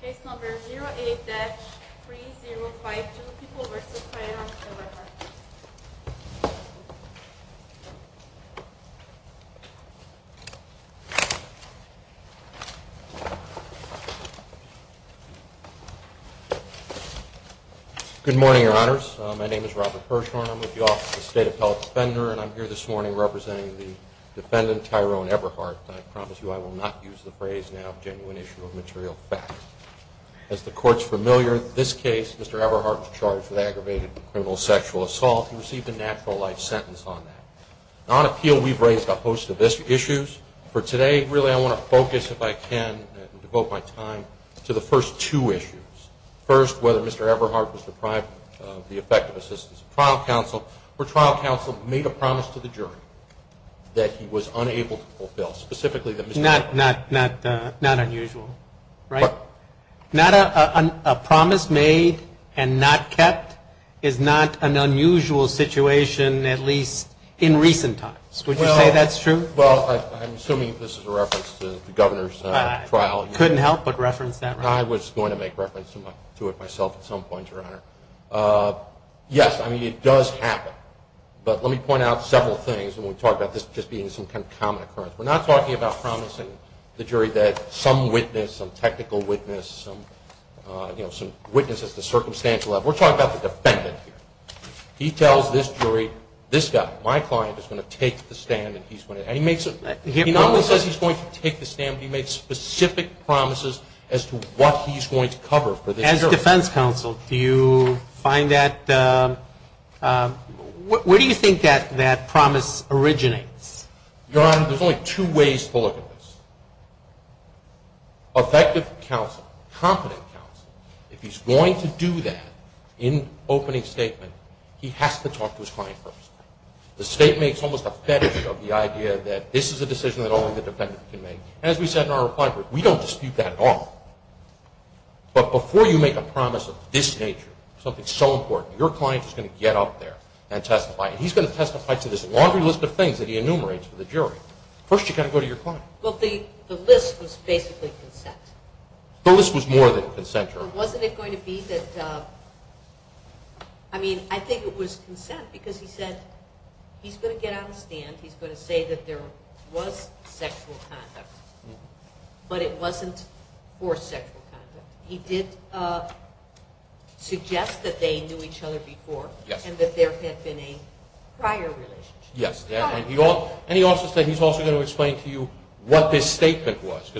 Case number 08-3052. People v. Tyrone Everhart. Good morning, Your Honors. My name is Robert Hirshhorn. I'm with the Office of the State Appellate Defender, and I'm here this morning representing the defendant, Tyrone Everhart. And I promise you I will not use the phrase now, a genuine issue of material fact. As the Court's familiar, this case, Mr. Everhart was charged with aggravated criminal sexual assault. He received a natural life sentence on that. On appeal, we've raised a host of issues. For today, really, I want to focus, if I can, and devote my time, to the first two issues. First, whether Mr. Everhart was deprived of the effective assistance of trial counsel, or trial counsel made a promise to the jury that he was unable to fulfill. Not unusual, right? A promise made and not kept is not an unusual situation, at least in recent times. Would you say that's true? Well, I'm assuming this is a reference to the Governor's trial. I couldn't help but reference that reference. I was going to make reference to it myself at some point, Your Honor. Yes, I mean, it does happen. But let me point out several things when we talk about this just being some kind of common occurrence. We're not talking about promising the jury that some witness, some technical witness, some witness at the circumstantial level. We're talking about the defendant here. He tells this jury, this guy, my client, is going to take the stand. He normally says he's going to take the stand, but he makes specific promises as to what he's going to cover for this jury. As defense counsel, do you find that – where do you think that promise originates? Your Honor, there's only two ways to look at this. Effective counsel, competent counsel, if he's going to do that in opening statement, he has to talk to his client first. The state makes almost a fetish of the idea that this is a decision that only the defendant can make. As we said in our reply, we don't dispute that at all. But before you make a promise of this nature, something so important, your client is going to get up there and testify. He's going to testify to this laundry list of things that he enumerates for the jury. First, you've got to go to your client. Well, the list was basically consent. The list was more than consent, Your Honor. But wasn't it going to be that – I mean, I think it was consent because he said he's going to get on the stand. He's going to say that there was sexual conduct, but it wasn't forced sexual conduct. He did suggest that they knew each other before and that there had been a prior relationship. Yes. And he also said he's also going to explain to you what this statement was.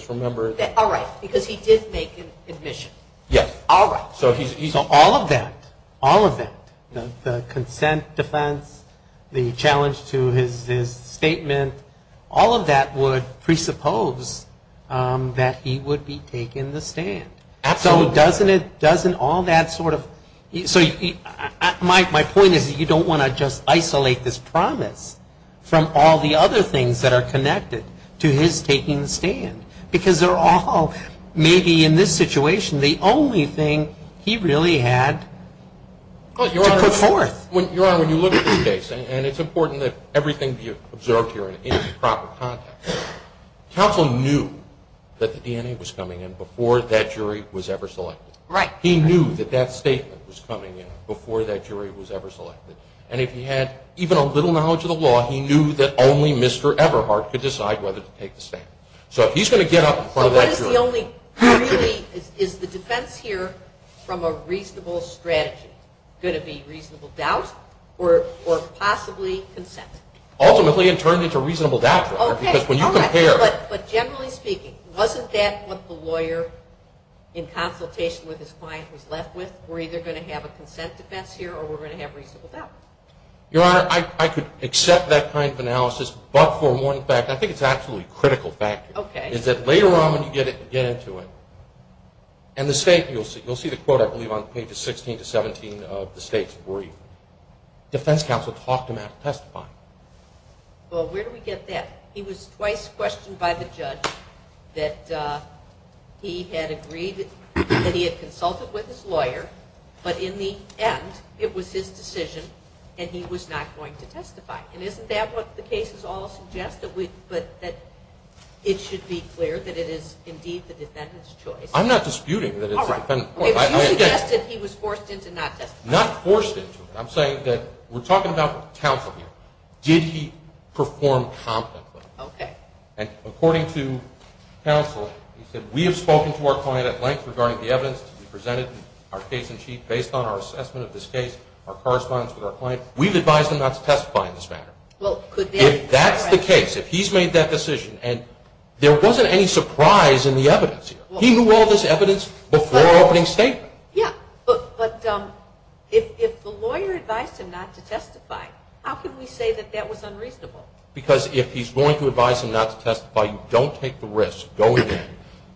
All right, because he did make an admission. Yes. All right. So all of that, all of that, the consent defense, the challenge to his statement, all of that would presuppose that he would be taking the stand. Absolutely. So doesn't it – doesn't all that sort of – so my point is you don't want to just isolate this promise from all the other things that are connected to his taking the stand, because they're all maybe in this situation the only thing he really had to put forth. Your Honor, when you look at this case, and it's important that everything be observed here in proper context, counsel knew that the DNA was coming in before that jury was ever selected. Right. He knew that that statement was coming in before that jury was ever selected. And if he had even a little knowledge of the law, he knew that only Mr. Everhart could decide whether to take the stand. So if he's going to get up in front of that jury – or possibly consent. Ultimately it turned into a reasonable doubt. Okay, all right. Because when you compare – But generally speaking, wasn't that what the lawyer, in consultation with his client, was left with? We're either going to have a consent defense here or we're going to have reasonable doubt. Your Honor, I could accept that kind of analysis, but for one fact, I think it's an absolutely critical factor. Okay. Is that later on when you get into it, and the state – defense counsel talked him out of testifying? Well, where do we get that? He was twice questioned by the judge that he had agreed that he had consulted with his lawyer, but in the end it was his decision and he was not going to testify. And isn't that what the cases all suggest, that it should be clear that it is indeed the defendant's choice? I'm not disputing that it's the defendant's choice. You suggested he was forced into not testifying. Not forced into it. I'm saying that we're talking about counsel here. Did he perform competently? Okay. And according to counsel, he said, we have spoken to our client at length regarding the evidence to be presented in our case in chief based on our assessment of this case, our correspondence with our client. We've advised him not to testify in this matter. If that's the case, if he's made that decision, and there wasn't any surprise in the evidence here. He knew all this evidence before opening statement. Yeah, but if the lawyer advised him not to testify, how can we say that that was unreasonable? Because if he's going to advise him not to testify, you don't take the risk going in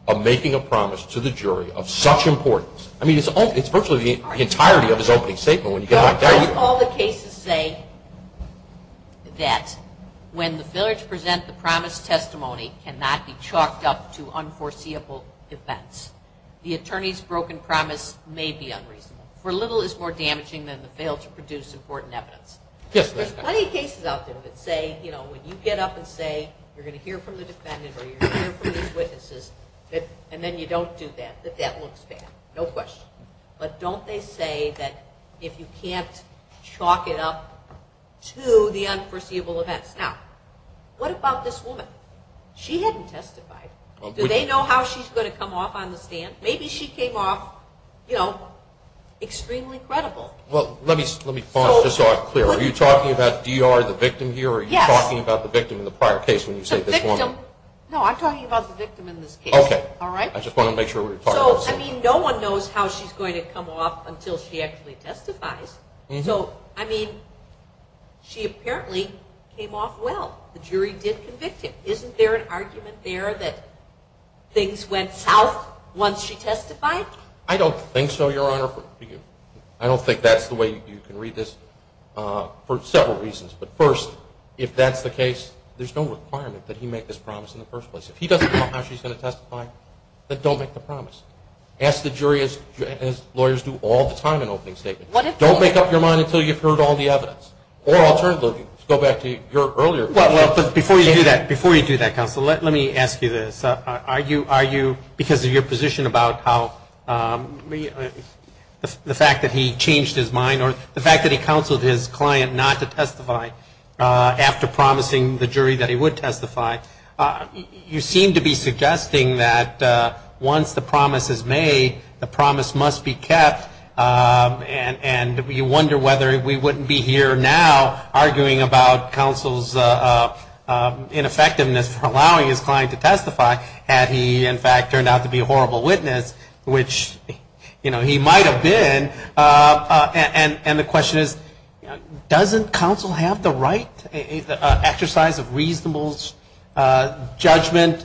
and making a promise to the jury of such importance. I mean, it's virtually the entirety of his opening statement. All the cases say that when the fillers present the promise testimony, it cannot be chalked up to unforeseeable events. The attorney's broken promise may be unreasonable. For little is more damaging than the fail to produce important evidence. Yes, ma'am. There's plenty of cases out there that say, you know, when you get up and say you're going to hear from the defendant or you're going to hear from these witnesses, and then you don't do that, that that looks bad. No question. But don't they say that if you can't chalk it up to the unforeseeable events. Now, what about this woman? She hadn't testified. Do they know how she's going to come off on the stand? Maybe she came off, you know, extremely credible. Well, let me be clear. Are you talking about DR, the victim here, or are you talking about the victim in the prior case when you say this woman? The victim. No, I'm talking about the victim in this case. Okay. All right. I just want to make sure we're clear. So, I mean, no one knows how she's going to come off until she actually testifies. So, I mean, she apparently came off well. The jury did convict him. Isn't there an argument there that things went south once she testified? I don't think so, Your Honor. I don't think that's the way you can read this for several reasons. But, first, if that's the case, there's no requirement that he make this promise in the first place. If he doesn't know how she's going to testify, then don't make the promise. Ask the jury, as lawyers do all the time in opening statements, don't make up your mind until you've heard all the evidence. Or alternatively, go back to your earlier question. Well, but before you do that, Counsel, let me ask you this. Are you, because of your position about how the fact that he changed his mind or the fact that he counseled his client not to testify after promising the jury that he would testify, you seem to be suggesting that once the promise is made, the promise must be kept, and you wonder whether we wouldn't be here now arguing about Counsel's ineffectiveness for allowing his client to testify had he, in fact, turned out to be a horrible witness, which, you know, he might have been. And the question is, doesn't Counsel have the right exercise of reasonable judgment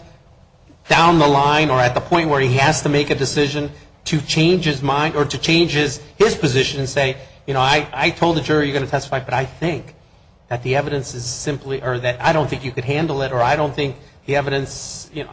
down the line or at the point where he has to make a decision to change his mind or to change his position and say, you know, I told the jury you're going to testify, but I think that the evidence is simply, or that I don't think you could handle it, or I don't think the evidence, you know,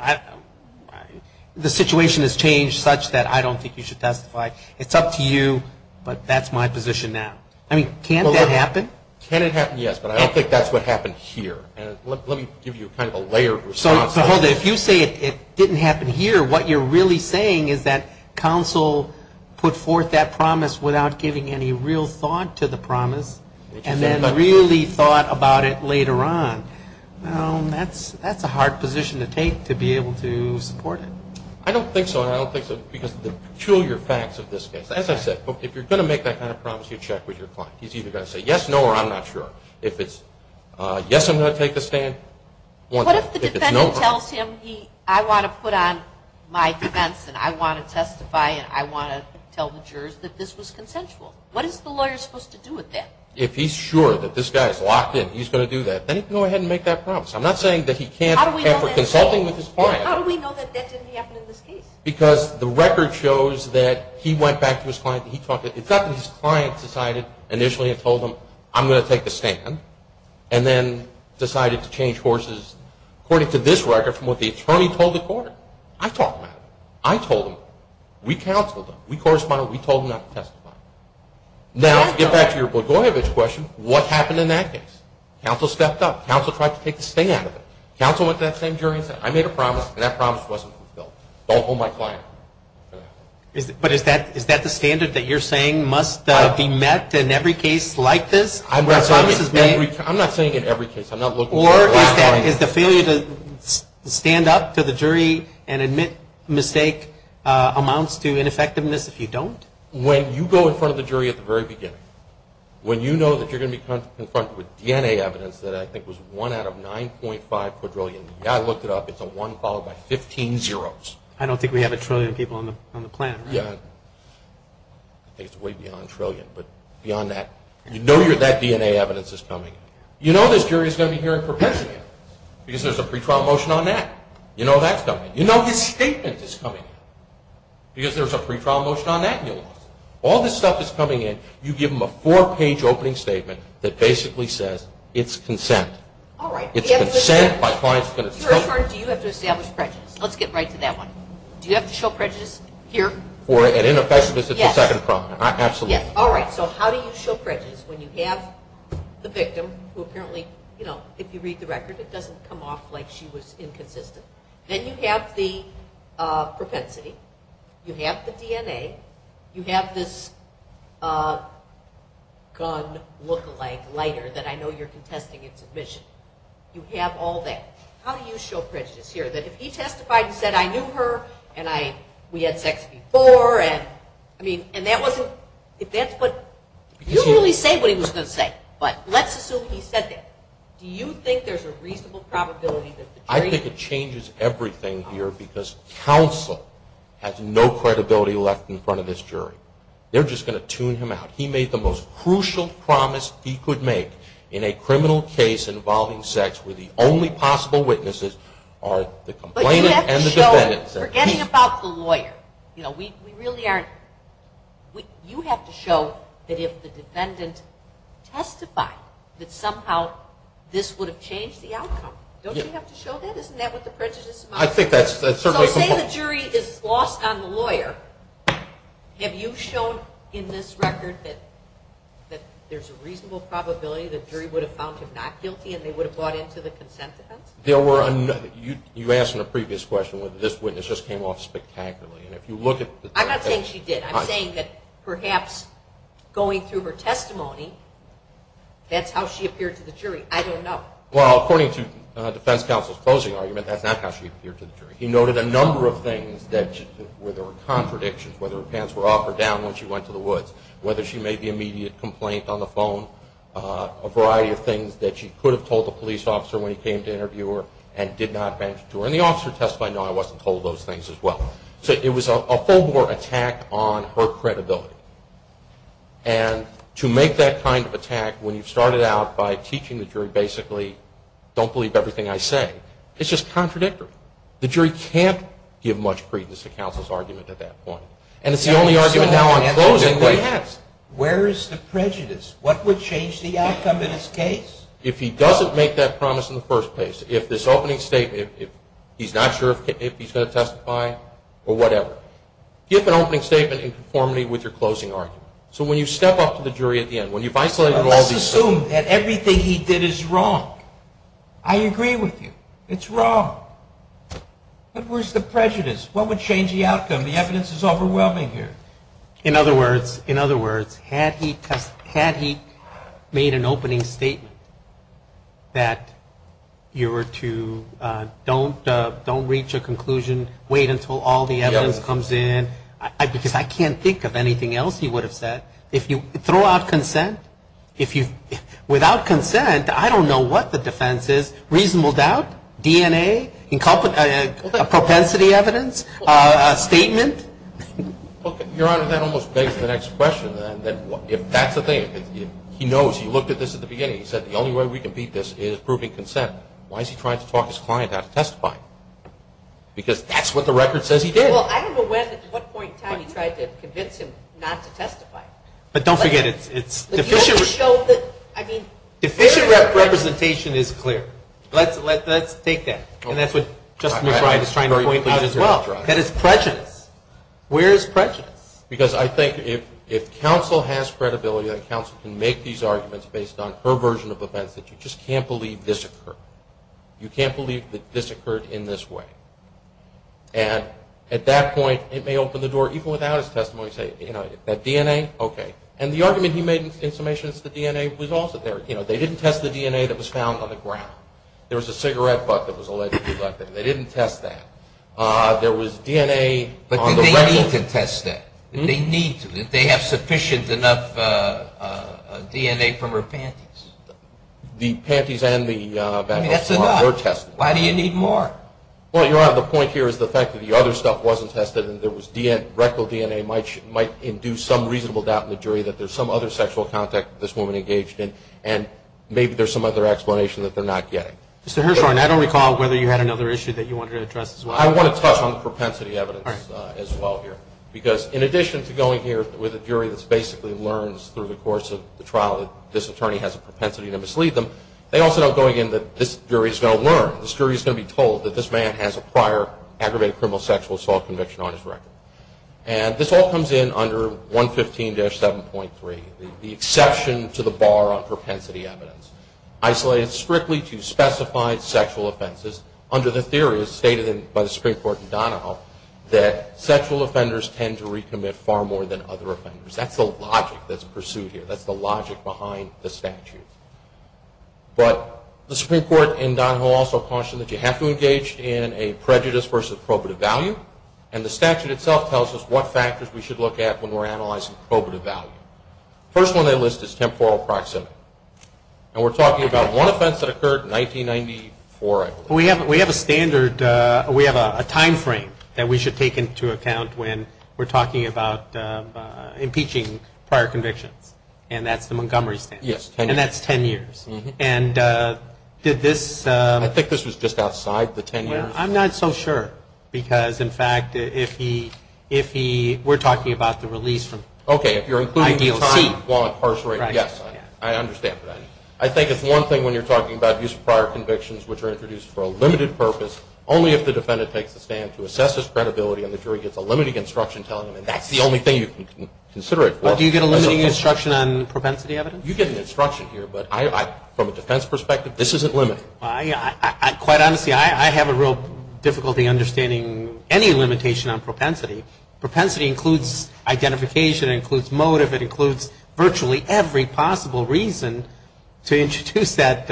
the situation has changed such that I don't think you should testify. It's up to you, but that's my position now. I mean, can't that happen? Can it happen, yes, but I don't think that's what happened here. Let me give you kind of a layered response. Hold it. If you say it didn't happen here, what you're really saying is that Counsel put forth that promise without giving any real thought to the promise and then really thought about it later on. That's a hard position to take to be able to support it. I don't think so, and I don't think so because of the peculiar facts of this case. As I said, if you're going to make that kind of promise, you check with your client. He's either going to say yes, no, or I'm not sure. If it's yes, I'm going to take the stand. What if the defendant tells him I want to put on my defense and I want to testify and I want to tell the jurors that this was consensual? What is the lawyer supposed to do with that? If he's sure that this guy is locked in and he's going to do that, then he can go ahead and make that promise. I'm not saying that he can't after consulting with his client. How do we know that that didn't happen in this case? Because the record shows that he went back to his client. It's not that his client decided initially and told him, I'm going to take the stand, and then decided to change courses according to this record from what the attorney told the court. I talked about it. I told him. We counseled him. We corresponded. We told him not to testify. Now, to get back to your Blagojevich question, what happened in that case? Counsel stepped up. Counsel tried to take the stand. Counsel went to that same jury and said, I made a promise, and that promise wasn't fulfilled. Don't hold my client. But is that the standard that you're saying must be met in every case like this? I'm not saying in every case. Or is the failure to stand up to the jury and admit mistake amounts to ineffectiveness if you don't? When you go in front of the jury at the very beginning, when you know that you're going to be confronted with DNA evidence that I think was one out of 9.5 quadrillion, you've got to look it up, it's a one followed by 15 zeros. I don't think we have a trillion people on the planet. Yeah. I think it's way beyond trillion. But beyond that, you know that DNA evidence is coming in. You know this jury is going to be hearing perpetually because there's a pretrial motion on that. You know that's coming. You know his statement is coming in because there's a pretrial motion on that. All this stuff is coming in. You give them a four-page opening statement that basically says it's consent. All right. It's consent by clients. Do you have to establish prejudice? Let's get right to that one. Do you have to show prejudice here? For an ineffectiveness, it's a second problem. Absolutely. All right. So how do you show prejudice when you have the victim who apparently, if you read the record, it doesn't come off like she was inconsistent. Then you have the propensity. You have the DNA. You have this gun lookalike lighter that I know you're contesting its admission. You have all that. How do you show prejudice here? That if he testified and said, I knew her, and we had sex before, and that wasn't – you didn't really say what he was going to say. But let's assume he said that. Do you think there's a reasonable probability that the jury – I think it changes everything here because counsel has no credibility left in front of this jury. They're just going to tune him out. He made the most crucial promise he could make in a criminal case involving sex where the only possible witnesses are the complainant and the defendant. But you have to show – forgetting about the lawyer. You know, we really aren't – you have to show that if the defendant testified, that somehow this would have changed the outcome. Don't you have to show that? Isn't that what the prejudice model is? I think that's – So say the jury is lost on the lawyer. Have you shown in this record that there's a reasonable probability the jury would have found him not guilty and they would have bought into the consent defense? There were – you asked in a previous question whether this witness just came off spectacularly. And if you look at – I'm not saying she did. I'm saying that perhaps going through her testimony, that's how she appeared to the jury. I don't know. Well, according to defense counsel's closing argument, that's not how she appeared to the jury. He noted a number of things where there were contradictions, whether her pants were up or down when she went to the woods, whether she made the immediate complaint on the phone, a variety of things that she could have told the police officer when he came to interview her and did not mention to her. And the officer testified, no, I wasn't told those things as well. So it was a full-blown attack on her credibility. And to make that kind of attack, when you've started out by teaching the jury basically, don't believe everything I say, it's just contradictory. The jury can't give much credence to counsel's argument at that point. And it's the only argument now on closing that has. Where is the prejudice? What would change the outcome in this case? If he doesn't make that promise in the first place, if this opening statement, he's not sure if he's going to testify or whatever, give an opening statement in conformity with your closing argument. So when you step up to the jury at the end, when you've isolated all these things. Let's assume that everything he did is wrong. I agree with you. It's wrong. But where's the prejudice? What would change the outcome? The evidence is overwhelming here. In other words, had he made an opening statement that you were to don't reach a conclusion, wait until all the evidence comes in, because I can't think of anything else he would have said. If you throw out consent, without consent, I don't know what the defense is. Reasonable doubt? DNA? Propensity evidence? A statement? Your Honor, that almost begs the next question. If that's the thing, he knows, he looked at this at the beginning, he said the only way we can beat this is proving consent. Why is he trying to talk his client out of testifying? Because that's what the record says he did. Well, I don't know when and at what point in time he tried to convince him not to testify. But don't forget, it's deficient representation is clear. Let's take that. And that's what Justice McBride is trying to point out as well. That is prejudice. Where is prejudice? Because I think if counsel has credibility, that counsel can make these arguments based on her version of events, that you just can't believe this occurred. You can't believe that this occurred in this way. And at that point, it may open the door, even without his testimony, say, you know, that DNA, okay. And the argument he made in summation is the DNA was also there. You know, they didn't test the DNA that was found on the ground. There was a cigarette butt that was allegedly collected. They didn't test that. There was DNA on the record. But did they need to test that? Did they need to? Did they have sufficient enough DNA from her panties? The panties and the baton were tested. I mean, that's enough. Why do you need more? Well, Your Honor, the point here is the fact that the other stuff wasn't tested and there was rectal DNA might induce some reasonable doubt in the jury that there's some other sexual contact that this woman engaged in, and maybe there's some other explanation that they're not getting. Mr. Hirshhorn, I don't recall whether you had another issue that you wanted to address as well. I want to touch on propensity evidence as well here, because in addition to going here with a jury that basically learns through the course of the trial that this attorney has a propensity to mislead them, they also know going in that this jury is going to learn, this jury is going to be told that this man has a prior aggravated criminal sexual assault conviction on his record. And this all comes in under 115-7.3, the exception to the bar on propensity evidence, isolated strictly to specified sexual offenses, under the theory as stated by the Supreme Court in Donahoe that sexual offenders tend to recommit far more than other offenders. That's the logic that's pursued here. That's the logic behind the statute. But the Supreme Court in Donahoe also cautioned that you have to engage in a prejudice versus probative value, and the statute itself tells us what factors we should look at when we're analyzing probative value. The first one they list is temporal proximity, and we're talking about one offense that occurred in 1994, I believe. We have a standard, we have a time frame that we should take into account when we're talking about impeaching prior convictions, and that's the Montgomery standard. Yes, 10 years. And that's 10 years. And did this... I think this was just outside the 10 years. I'm not so sure, because, in fact, if he... We're talking about the release from... Okay, if you're including the time while incarcerated, yes, I understand. I think it's one thing when you're talking about use of prior convictions which are introduced for a limited purpose, only if the defendant takes a stand to assess his credibility and the jury gets a limiting instruction telling them that's the only thing you can consider it for. Do you get a limiting instruction on propensity evidence? You get an instruction here, but from a defense perspective, this isn't limiting. Quite honestly, I have a real difficulty understanding any limitation on propensity. Propensity includes identification, it includes motive, it includes virtually every possible reason to introduce that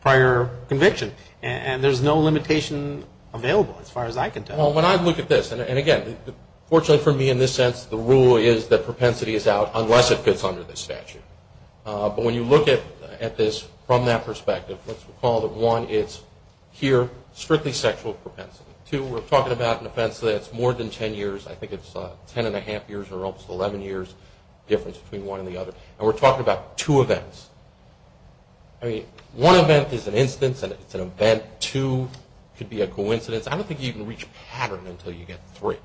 prior conviction, and there's no limitation available as far as I can tell. Well, when I look at this, and, again, fortunately for me in this sense, the rule is that propensity is out unless it fits under this statute. But when you look at this from that perspective, let's recall that, one, it's here strictly sexual propensity. Two, we're talking about an offense that's more than 10 years. I think it's 10 1⁄2 years or almost 11 years difference between one and the other. And we're talking about two events. I mean, one event is an instance and it's an event. Two could be a coincidence. I don't think you can reach a pattern until you get three.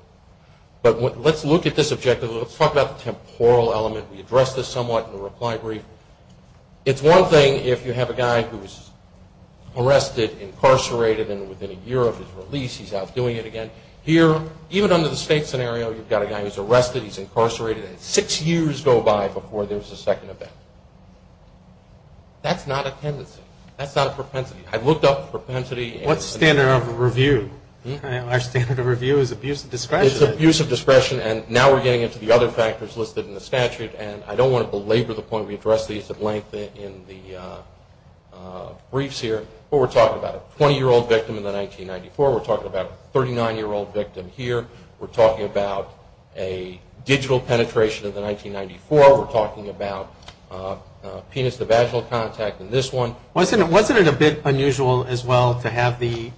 But let's look at this objective. Let's talk about the temporal element. We addressed this somewhat in the reply brief. It's one thing if you have a guy who's arrested, incarcerated, and within a year of his release he's out doing it again. Here, even under the state scenario, you've got a guy who's arrested, he's incarcerated, and six years go by before there's a second event. That's not a tendency. That's not a propensity. I've looked up propensity. What standard of review? Our standard of review is abuse of discretion. It's abuse of discretion, and now we're getting into the other factors listed in the statute, and I don't want to belabor the point. We addressed these at length in the briefs here. But we're talking about a 20-year-old victim in the 1994. We're talking about a 39-year-old victim here. We're talking about a digital penetration of the 1994. We're talking about penis-to-vaginal contact in this one. Wasn't it a bit unusual as well to have the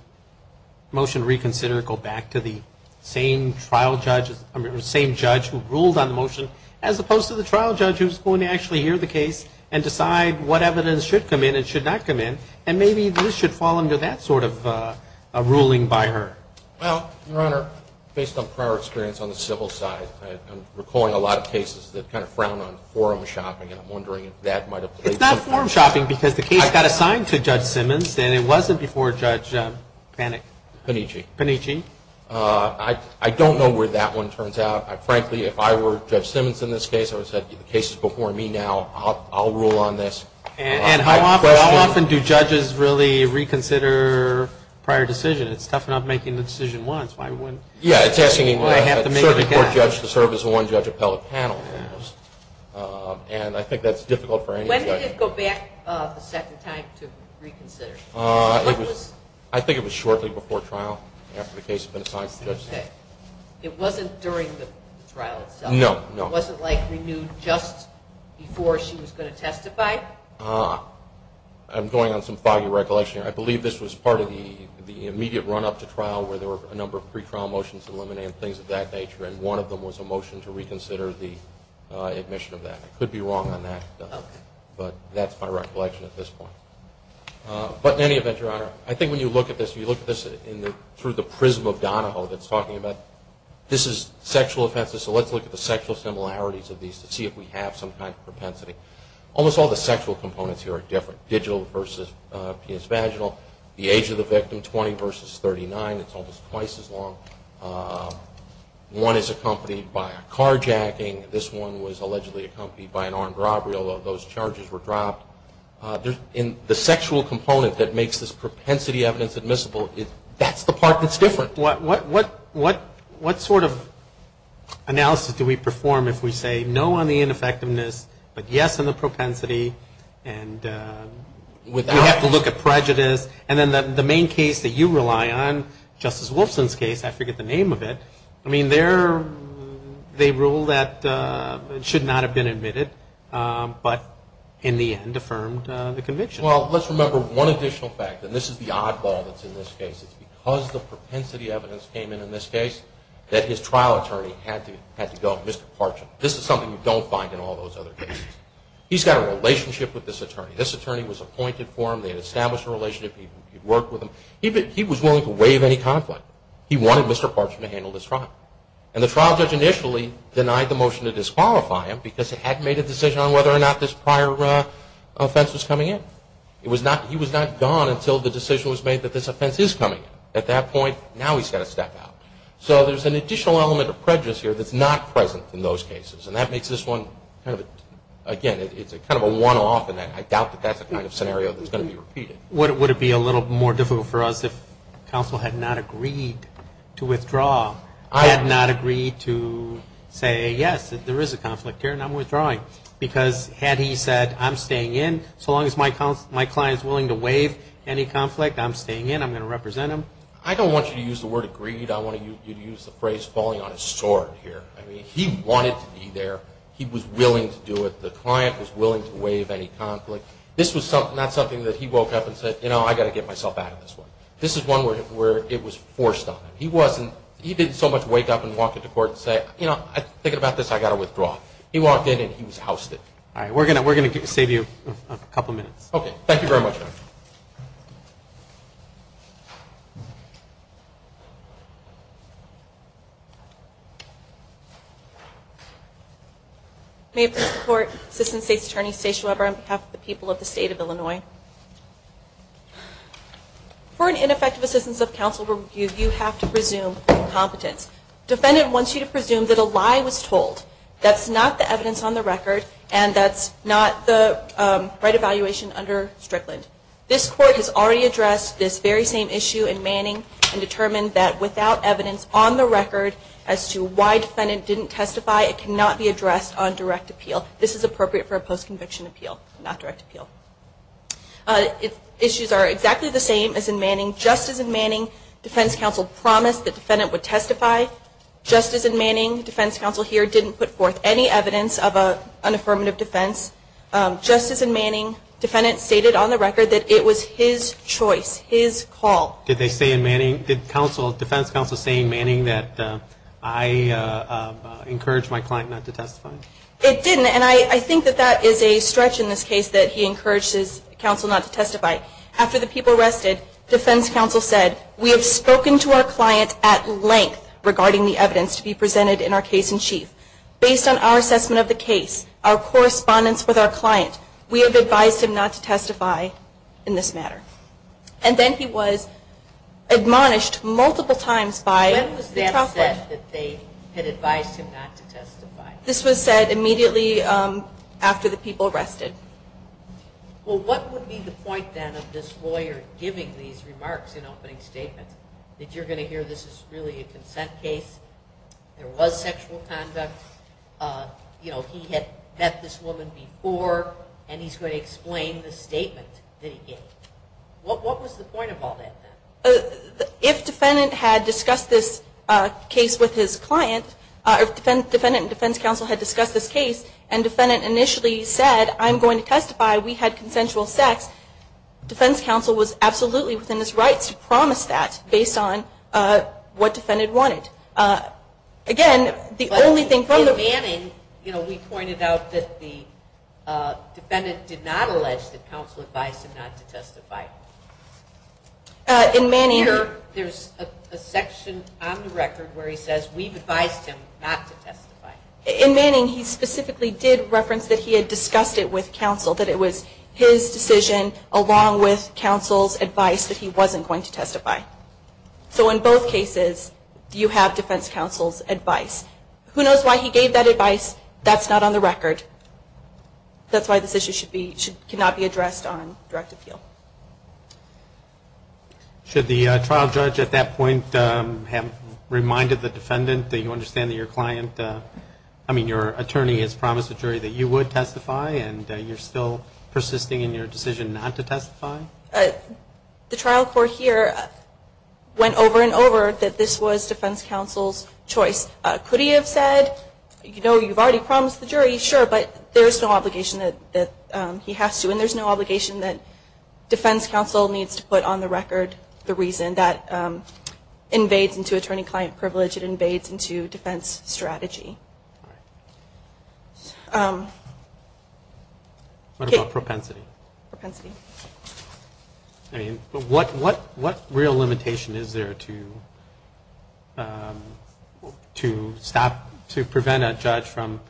motion reconsider, go back to the same judge who ruled on the motion, as opposed to the trial judge who's going to actually hear the case and decide what evidence should come in and should not come in, and maybe this should fall under that sort of ruling by her? Well, Your Honor, based on prior experience on the civil side, I'm recalling a lot of cases that kind of frowned on forum shopping, and I'm wondering if that might have played some part. It's not forum shopping because the case got assigned to Judge Simmons, and it wasn't before Judge Panitchi. I don't know where that one turns out. Frankly, if I were Judge Simmons in this case, I would have said the case is before me now. I'll rule on this. And how often do judges really reconsider prior decisions? It's tough enough making the decision once. Yeah, it's asking a circuit court judge to serve as a one-judge appellate panel. And I think that's difficult for any judge. When did it go back the second time to reconsider? I think it was shortly before trial, after the case had been assigned to Judge Simmons. Okay. It wasn't during the trial itself? No, no. It wasn't like renewed just before she was going to testify? I'm going on some foggy recollection here. I believe this was part of the immediate run-up to trial where there were a number of pre-trial motions eliminated and things of that nature, and one of them was a motion to reconsider the admission of that. I could be wrong on that, but that's my recollection at this point. But in any event, Your Honor, I think when you look at this, you look at this through the prism of Donahoe that's talking about this is sexual offenses, so let's look at the sexual similarities of these to see if we have some kind of propensity. Almost all the sexual components here are different. Digital versus PS Vaginal, the age of the victim, 20 versus 39. It's almost twice as long. One is accompanied by a carjacking. This one was allegedly accompanied by an armed robbery, although those charges were dropped. The sexual component that makes this propensity evidence admissible, that's the part that's different. What sort of analysis do we perform if we say no on the ineffectiveness but yes on the propensity and we have to look at prejudice? And then the main case that you rely on, Justice Wolfson's case, I forget the name of it, I mean they rule that it should not have been admitted but in the end affirmed the conviction. Well, let's remember one additional fact, and this is the oddball that's in this case. It's because the propensity evidence came in in this case that his trial attorney had to go, Mr. Parchin. This is something you don't find in all those other cases. He's got a relationship with this attorney. This attorney was appointed for him. They had established a relationship. He worked with him. He was willing to waive any conflict. He wanted Mr. Parchin to handle this trial. And the trial judge initially denied the motion to disqualify him because he hadn't made a decision on whether or not this prior offense was coming in. He was not gone until the decision was made that this offense is coming in. At that point, now he's got to step out. So there's an additional element of prejudice here that's not present in those cases, and that makes this one, again, it's kind of a one-off, and I doubt that that's the kind of scenario that's going to be repeated. Would it be a little more difficult for us if counsel had not agreed to withdraw, had not agreed to say, yes, there is a conflict here and I'm withdrawing, because had he said, I'm staying in so long as my client is willing to waive any conflict, I'm staying in, I'm going to represent him? I don't want you to use the word agreed. I want you to use the phrase falling on his sword here. He wanted to be there. He was willing to do it. The client was willing to waive any conflict. This was not something that he woke up and said, you know, I've got to get myself out of this one. This is one where it was forced on him. He didn't so much wake up and walk into court and say, you know, I'm thinking about this, I've got to withdraw. He walked in and he was housed in. All right. We're going to save you a couple minutes. Okay. Thank you very much. Thank you. May I please report? Assistant State's Attorney Stacia Weber on behalf of the people of the State of Illinois. For an ineffective assistance of counsel review, you have to presume incompetence. Defendant wants you to presume that a lie was told. That's not the evidence on the record and that's not the right evaluation under Strickland. This court has already addressed this very same issue in Manning and determined that without evidence on the record as to why defendant didn't testify, it cannot be addressed on direct appeal. This is appropriate for a post-conviction appeal, not direct appeal. Issues are exactly the same as in Manning. Just as in Manning, defense counsel promised that defendant would testify, just as in Manning, defense counsel here didn't put forth any evidence of an affirmative defense. Just as in Manning, defendant stated on the record that it was his choice, his call. Did they say in Manning, did defense counsel say in Manning that I encouraged my client not to testify? It didn't. And I think that that is a stretch in this case that he encouraged his counsel not to testify. After the people arrested, defense counsel said, we have spoken to our client at length regarding the evidence to be presented in our case in chief. Based on our assessment of the case, our correspondence with our client, we have advised him not to testify in this matter. And then he was admonished multiple times by the trust. When was that said that they had advised him not to testify? This was said immediately after the people arrested. Well, what would be the point then of this lawyer giving these remarks in opening statements, that you're going to hear this is really a consent case, there was sexual conduct, he had met this woman before, and he's going to explain the statement that he gave? What was the point of all that? If defendant had discussed this case with his client, if defendant and defense counsel had discussed this case, and defendant initially said, I'm going to testify, we had consensual sex, defense counsel was absolutely within his rights to promise that based on what defendant wanted. Again, the only thing from the- But in Manning, we pointed out that the defendant did not allege that counsel advised him not to testify. In Manning- Here, there's a section on the record where he says, we've advised him not to testify. In Manning, he specifically did reference that he had discussed it with counsel, that it was his decision along with counsel's advice that he wasn't going to testify. So in both cases, you have defense counsel's advice. Who knows why he gave that advice? That's not on the record. That's why this issue cannot be addressed on direct appeal. Should the trial judge at that point have reminded the defendant that you understand that your client- I mean, your attorney has promised the jury that you would testify, and you're still persisting in your decision not to testify? The trial court here went over and over that this was defense counsel's choice. Could he have said, you know, you've already promised the jury, sure, but there's no obligation that he has to, and there's no obligation that defense counsel needs to put on the record the reason. That invades into attorney-client privilege. It invades into defense strategy. What about propensity? Propensity. I mean, what real limitation is there to prevent a judge from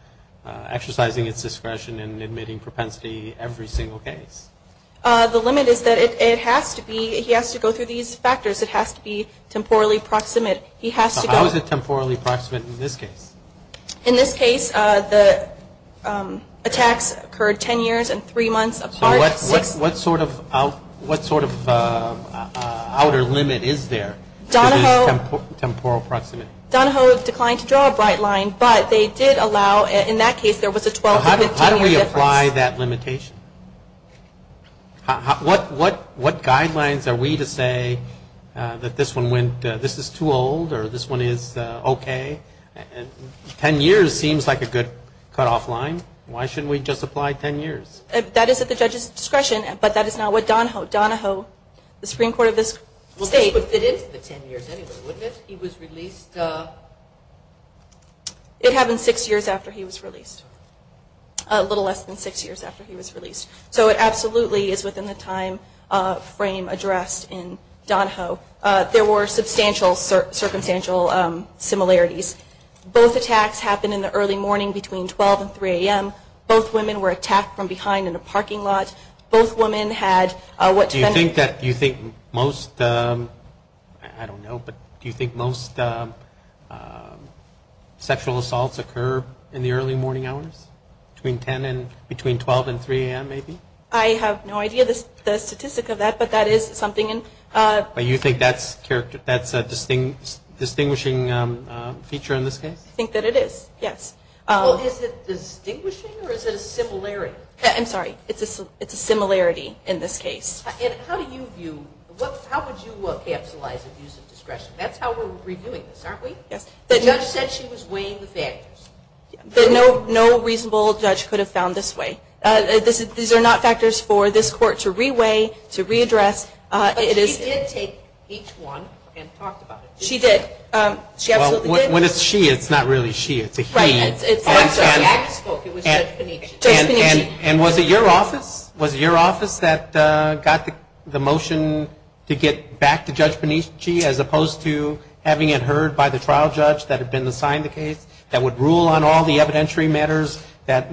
exercising its discretion and admitting propensity every single case? The limit is that it has to be-he has to go through these factors. It has to be temporally proximate. He has to go- How is it temporally proximate in this case? In this case, the attacks occurred ten years and three months apart. So what sort of outer limit is there to this temporal proximity? Donahoe declined to draw a bright line, but they did allow-in that case, there was a 12-to-15-year difference. How do we apply that limitation? What guidelines are we to say that this one went-this is too old or this one is okay? Ten years seems like a good cutoff line. Why shouldn't we just apply ten years? That is at the judge's discretion, but that is not what Donahoe-Donahoe, the Supreme Court of this state- Well, this would fit into the ten years anyway, wouldn't it? He was released- It happened six years after he was released, a little less than six years after he was released. So it absolutely is within the time frame addressed in Donahoe. There were substantial circumstantial similarities. Both attacks happened in the early morning between 12 and 3 a.m. Both women were attacked from behind in a parking lot. Both women had what- Do you think that most-I don't know, but do you think most sexual assaults occur in the early morning hours, between 12 and 3 a.m. maybe? I have no idea of the statistic of that, but that is something- But you think that's a distinguishing feature in this case? I think that it is, yes. Well, is it distinguishing or is it a similarity? I'm sorry. It's a similarity in this case. And how do you view-how would you capsulize abuse of discretion? That's how we're reviewing this, aren't we? Yes. The judge said she was weighing the factors. No reasonable judge could have found this way. These are not factors for this court to re-weigh, to re-address. But she did take each one and talked about it. She did. Well, when it's she, it's not really she. It's a he. Oh, I'm sorry. The actor spoke. It was Judge Benici. Judge Benici. And was it your office? Was it your office that got the motion to get back to Judge Benici, as opposed to having it heard by the trial judge that had been assigned the case, that would rule on all the evidentiary matters that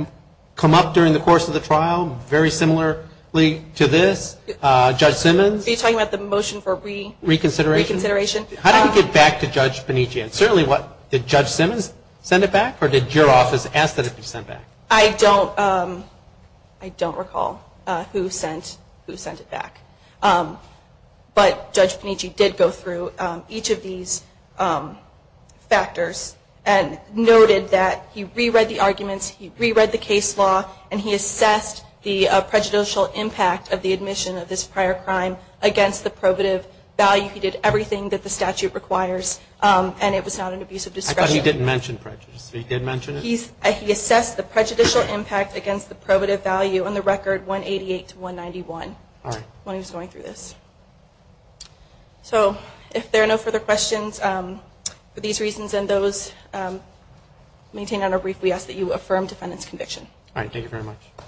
come up during the course of the trial, very similarly to this? Judge Simmons? Are you talking about the motion for reconsideration? Reconsideration. How did it get back to Judge Benici? Did Judge Simmons send it back, or did your office ask that it be sent back? I don't recall who sent it back. But Judge Benici did go through each of these factors and noted that he re-read the arguments, he re-read the case law, and he assessed the prejudicial impact of the admission of this prior crime against the probative value. He did everything that the statute requires. And it was not an abuse of discretion. I thought he didn't mention prejudice. He did mention it? He assessed the prejudicial impact against the probative value on the record 188 to 191. All right. When he was going through this. So if there are no further questions for these reasons and those, I'll maintain on a brief. We ask that you affirm defendant's conviction. All right. Thank you very much. Thank you.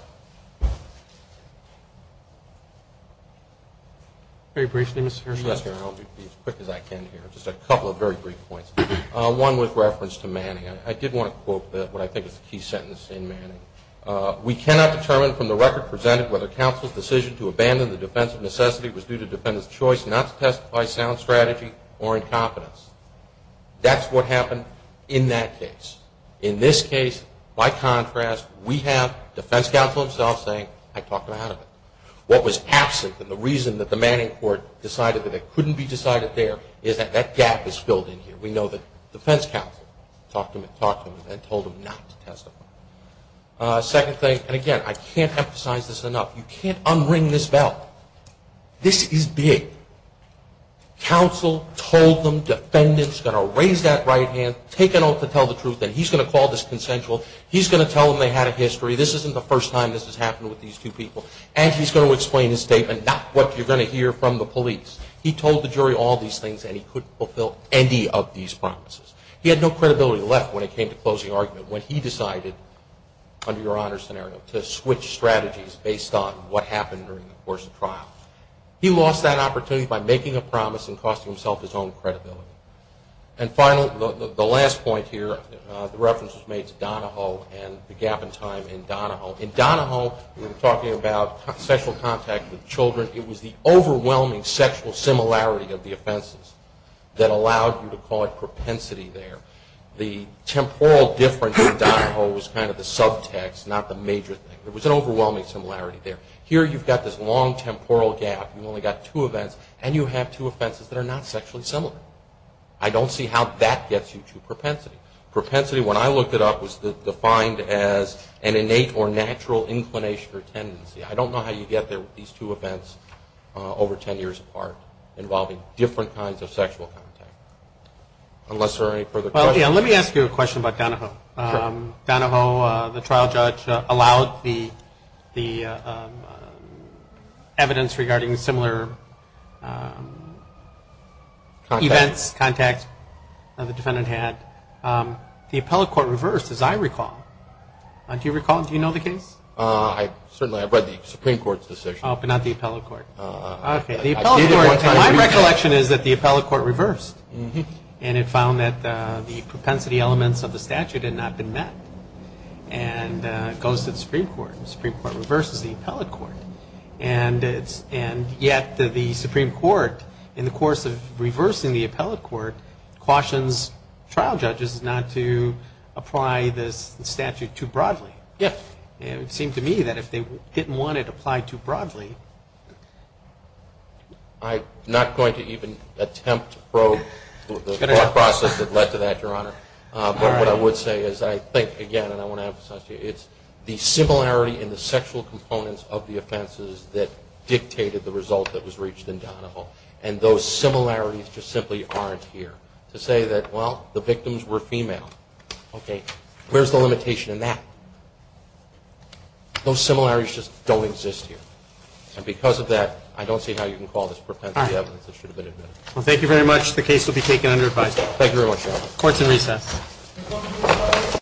Very brief. I'll be as quick as I can here. Just a couple of very brief points. One with reference to Manning. I did want to quote what I think is a key sentence in Manning. We cannot determine from the record presented whether counsel's decision to abandon the defense of necessity was due to defendant's choice not to testify sound strategy or incompetence. That's what happened in that case. In this case, by contrast, we have defense counsel himself saying, I talked him out of it. What was absent and the reason that the Manning court decided that it couldn't be decided there, is that that gap is filled in here. We know that defense counsel talked him in and told him not to testify. Second thing, and again, I can't emphasize this enough. You can't unring this bell. This is big. Counsel told them defendant's going to raise that right hand, take an oath to tell the truth, and he's going to call this consensual, he's going to tell them they had a history, this isn't the first time this has happened with these two people, and he's going to explain his statement, not what you're going to hear from the police. He told the jury all these things and he couldn't fulfill any of these promises. He had no credibility left when it came to closing argument. When he decided, under your honor's scenario, to switch strategies based on what happened during the course of trial, he lost that opportunity by making a promise and costing himself his own credibility. And finally, the last point here, the reference was made to Donahoe and the gap in time in Donahoe. In Donahoe, we were talking about sexual contact with children. It was the overwhelming sexual similarity of the offenses that allowed you to call it propensity there. The temporal difference in Donahoe was kind of the subtext, not the major thing. There was an overwhelming similarity there. Here you've got this long temporal gap, you've only got two events, and you have two offenses that are not sexually similar. I don't see how that gets you to propensity. Propensity, when I looked it up, was defined as an innate or natural inclination or tendency. I don't know how you get there with these two events over ten years apart involving different kinds of sexual contact. Unless there are any further questions. Let me ask you a question about Donahoe. Donahoe, the trial judge, allowed the evidence regarding similar events, contact, that the defendant had. The appellate court reversed, as I recall. Do you recall? Do you know the case? Certainly. I've read the Supreme Court's decision. Oh, but not the appellate court. My recollection is that the appellate court reversed, and it found that the propensity elements of the statute had not been met. And it goes to the Supreme Court, and the Supreme Court reverses the appellate court. And yet the Supreme Court, in the course of reversing the appellate court, cautions trial judges not to apply this statute too broadly. It seemed to me that if they didn't want it applied too broadly. I'm not going to even attempt to probe the thought process that led to that, Your Honor. But what I would say is I think, again, and I want to emphasize to you, it's the similarity in the sexual components of the offenses that dictated the result that was reached in Donahoe. And those similarities just simply aren't here. To say that, well, the victims were female, okay, where's the limitation in that? Those similarities just don't exist here. And because of that, I don't see how you can call this propensity evidence that should have been admitted. All right. Well, thank you very much. The case will be taken under advisory. Thank you very much, Your Honor. Court is in recess.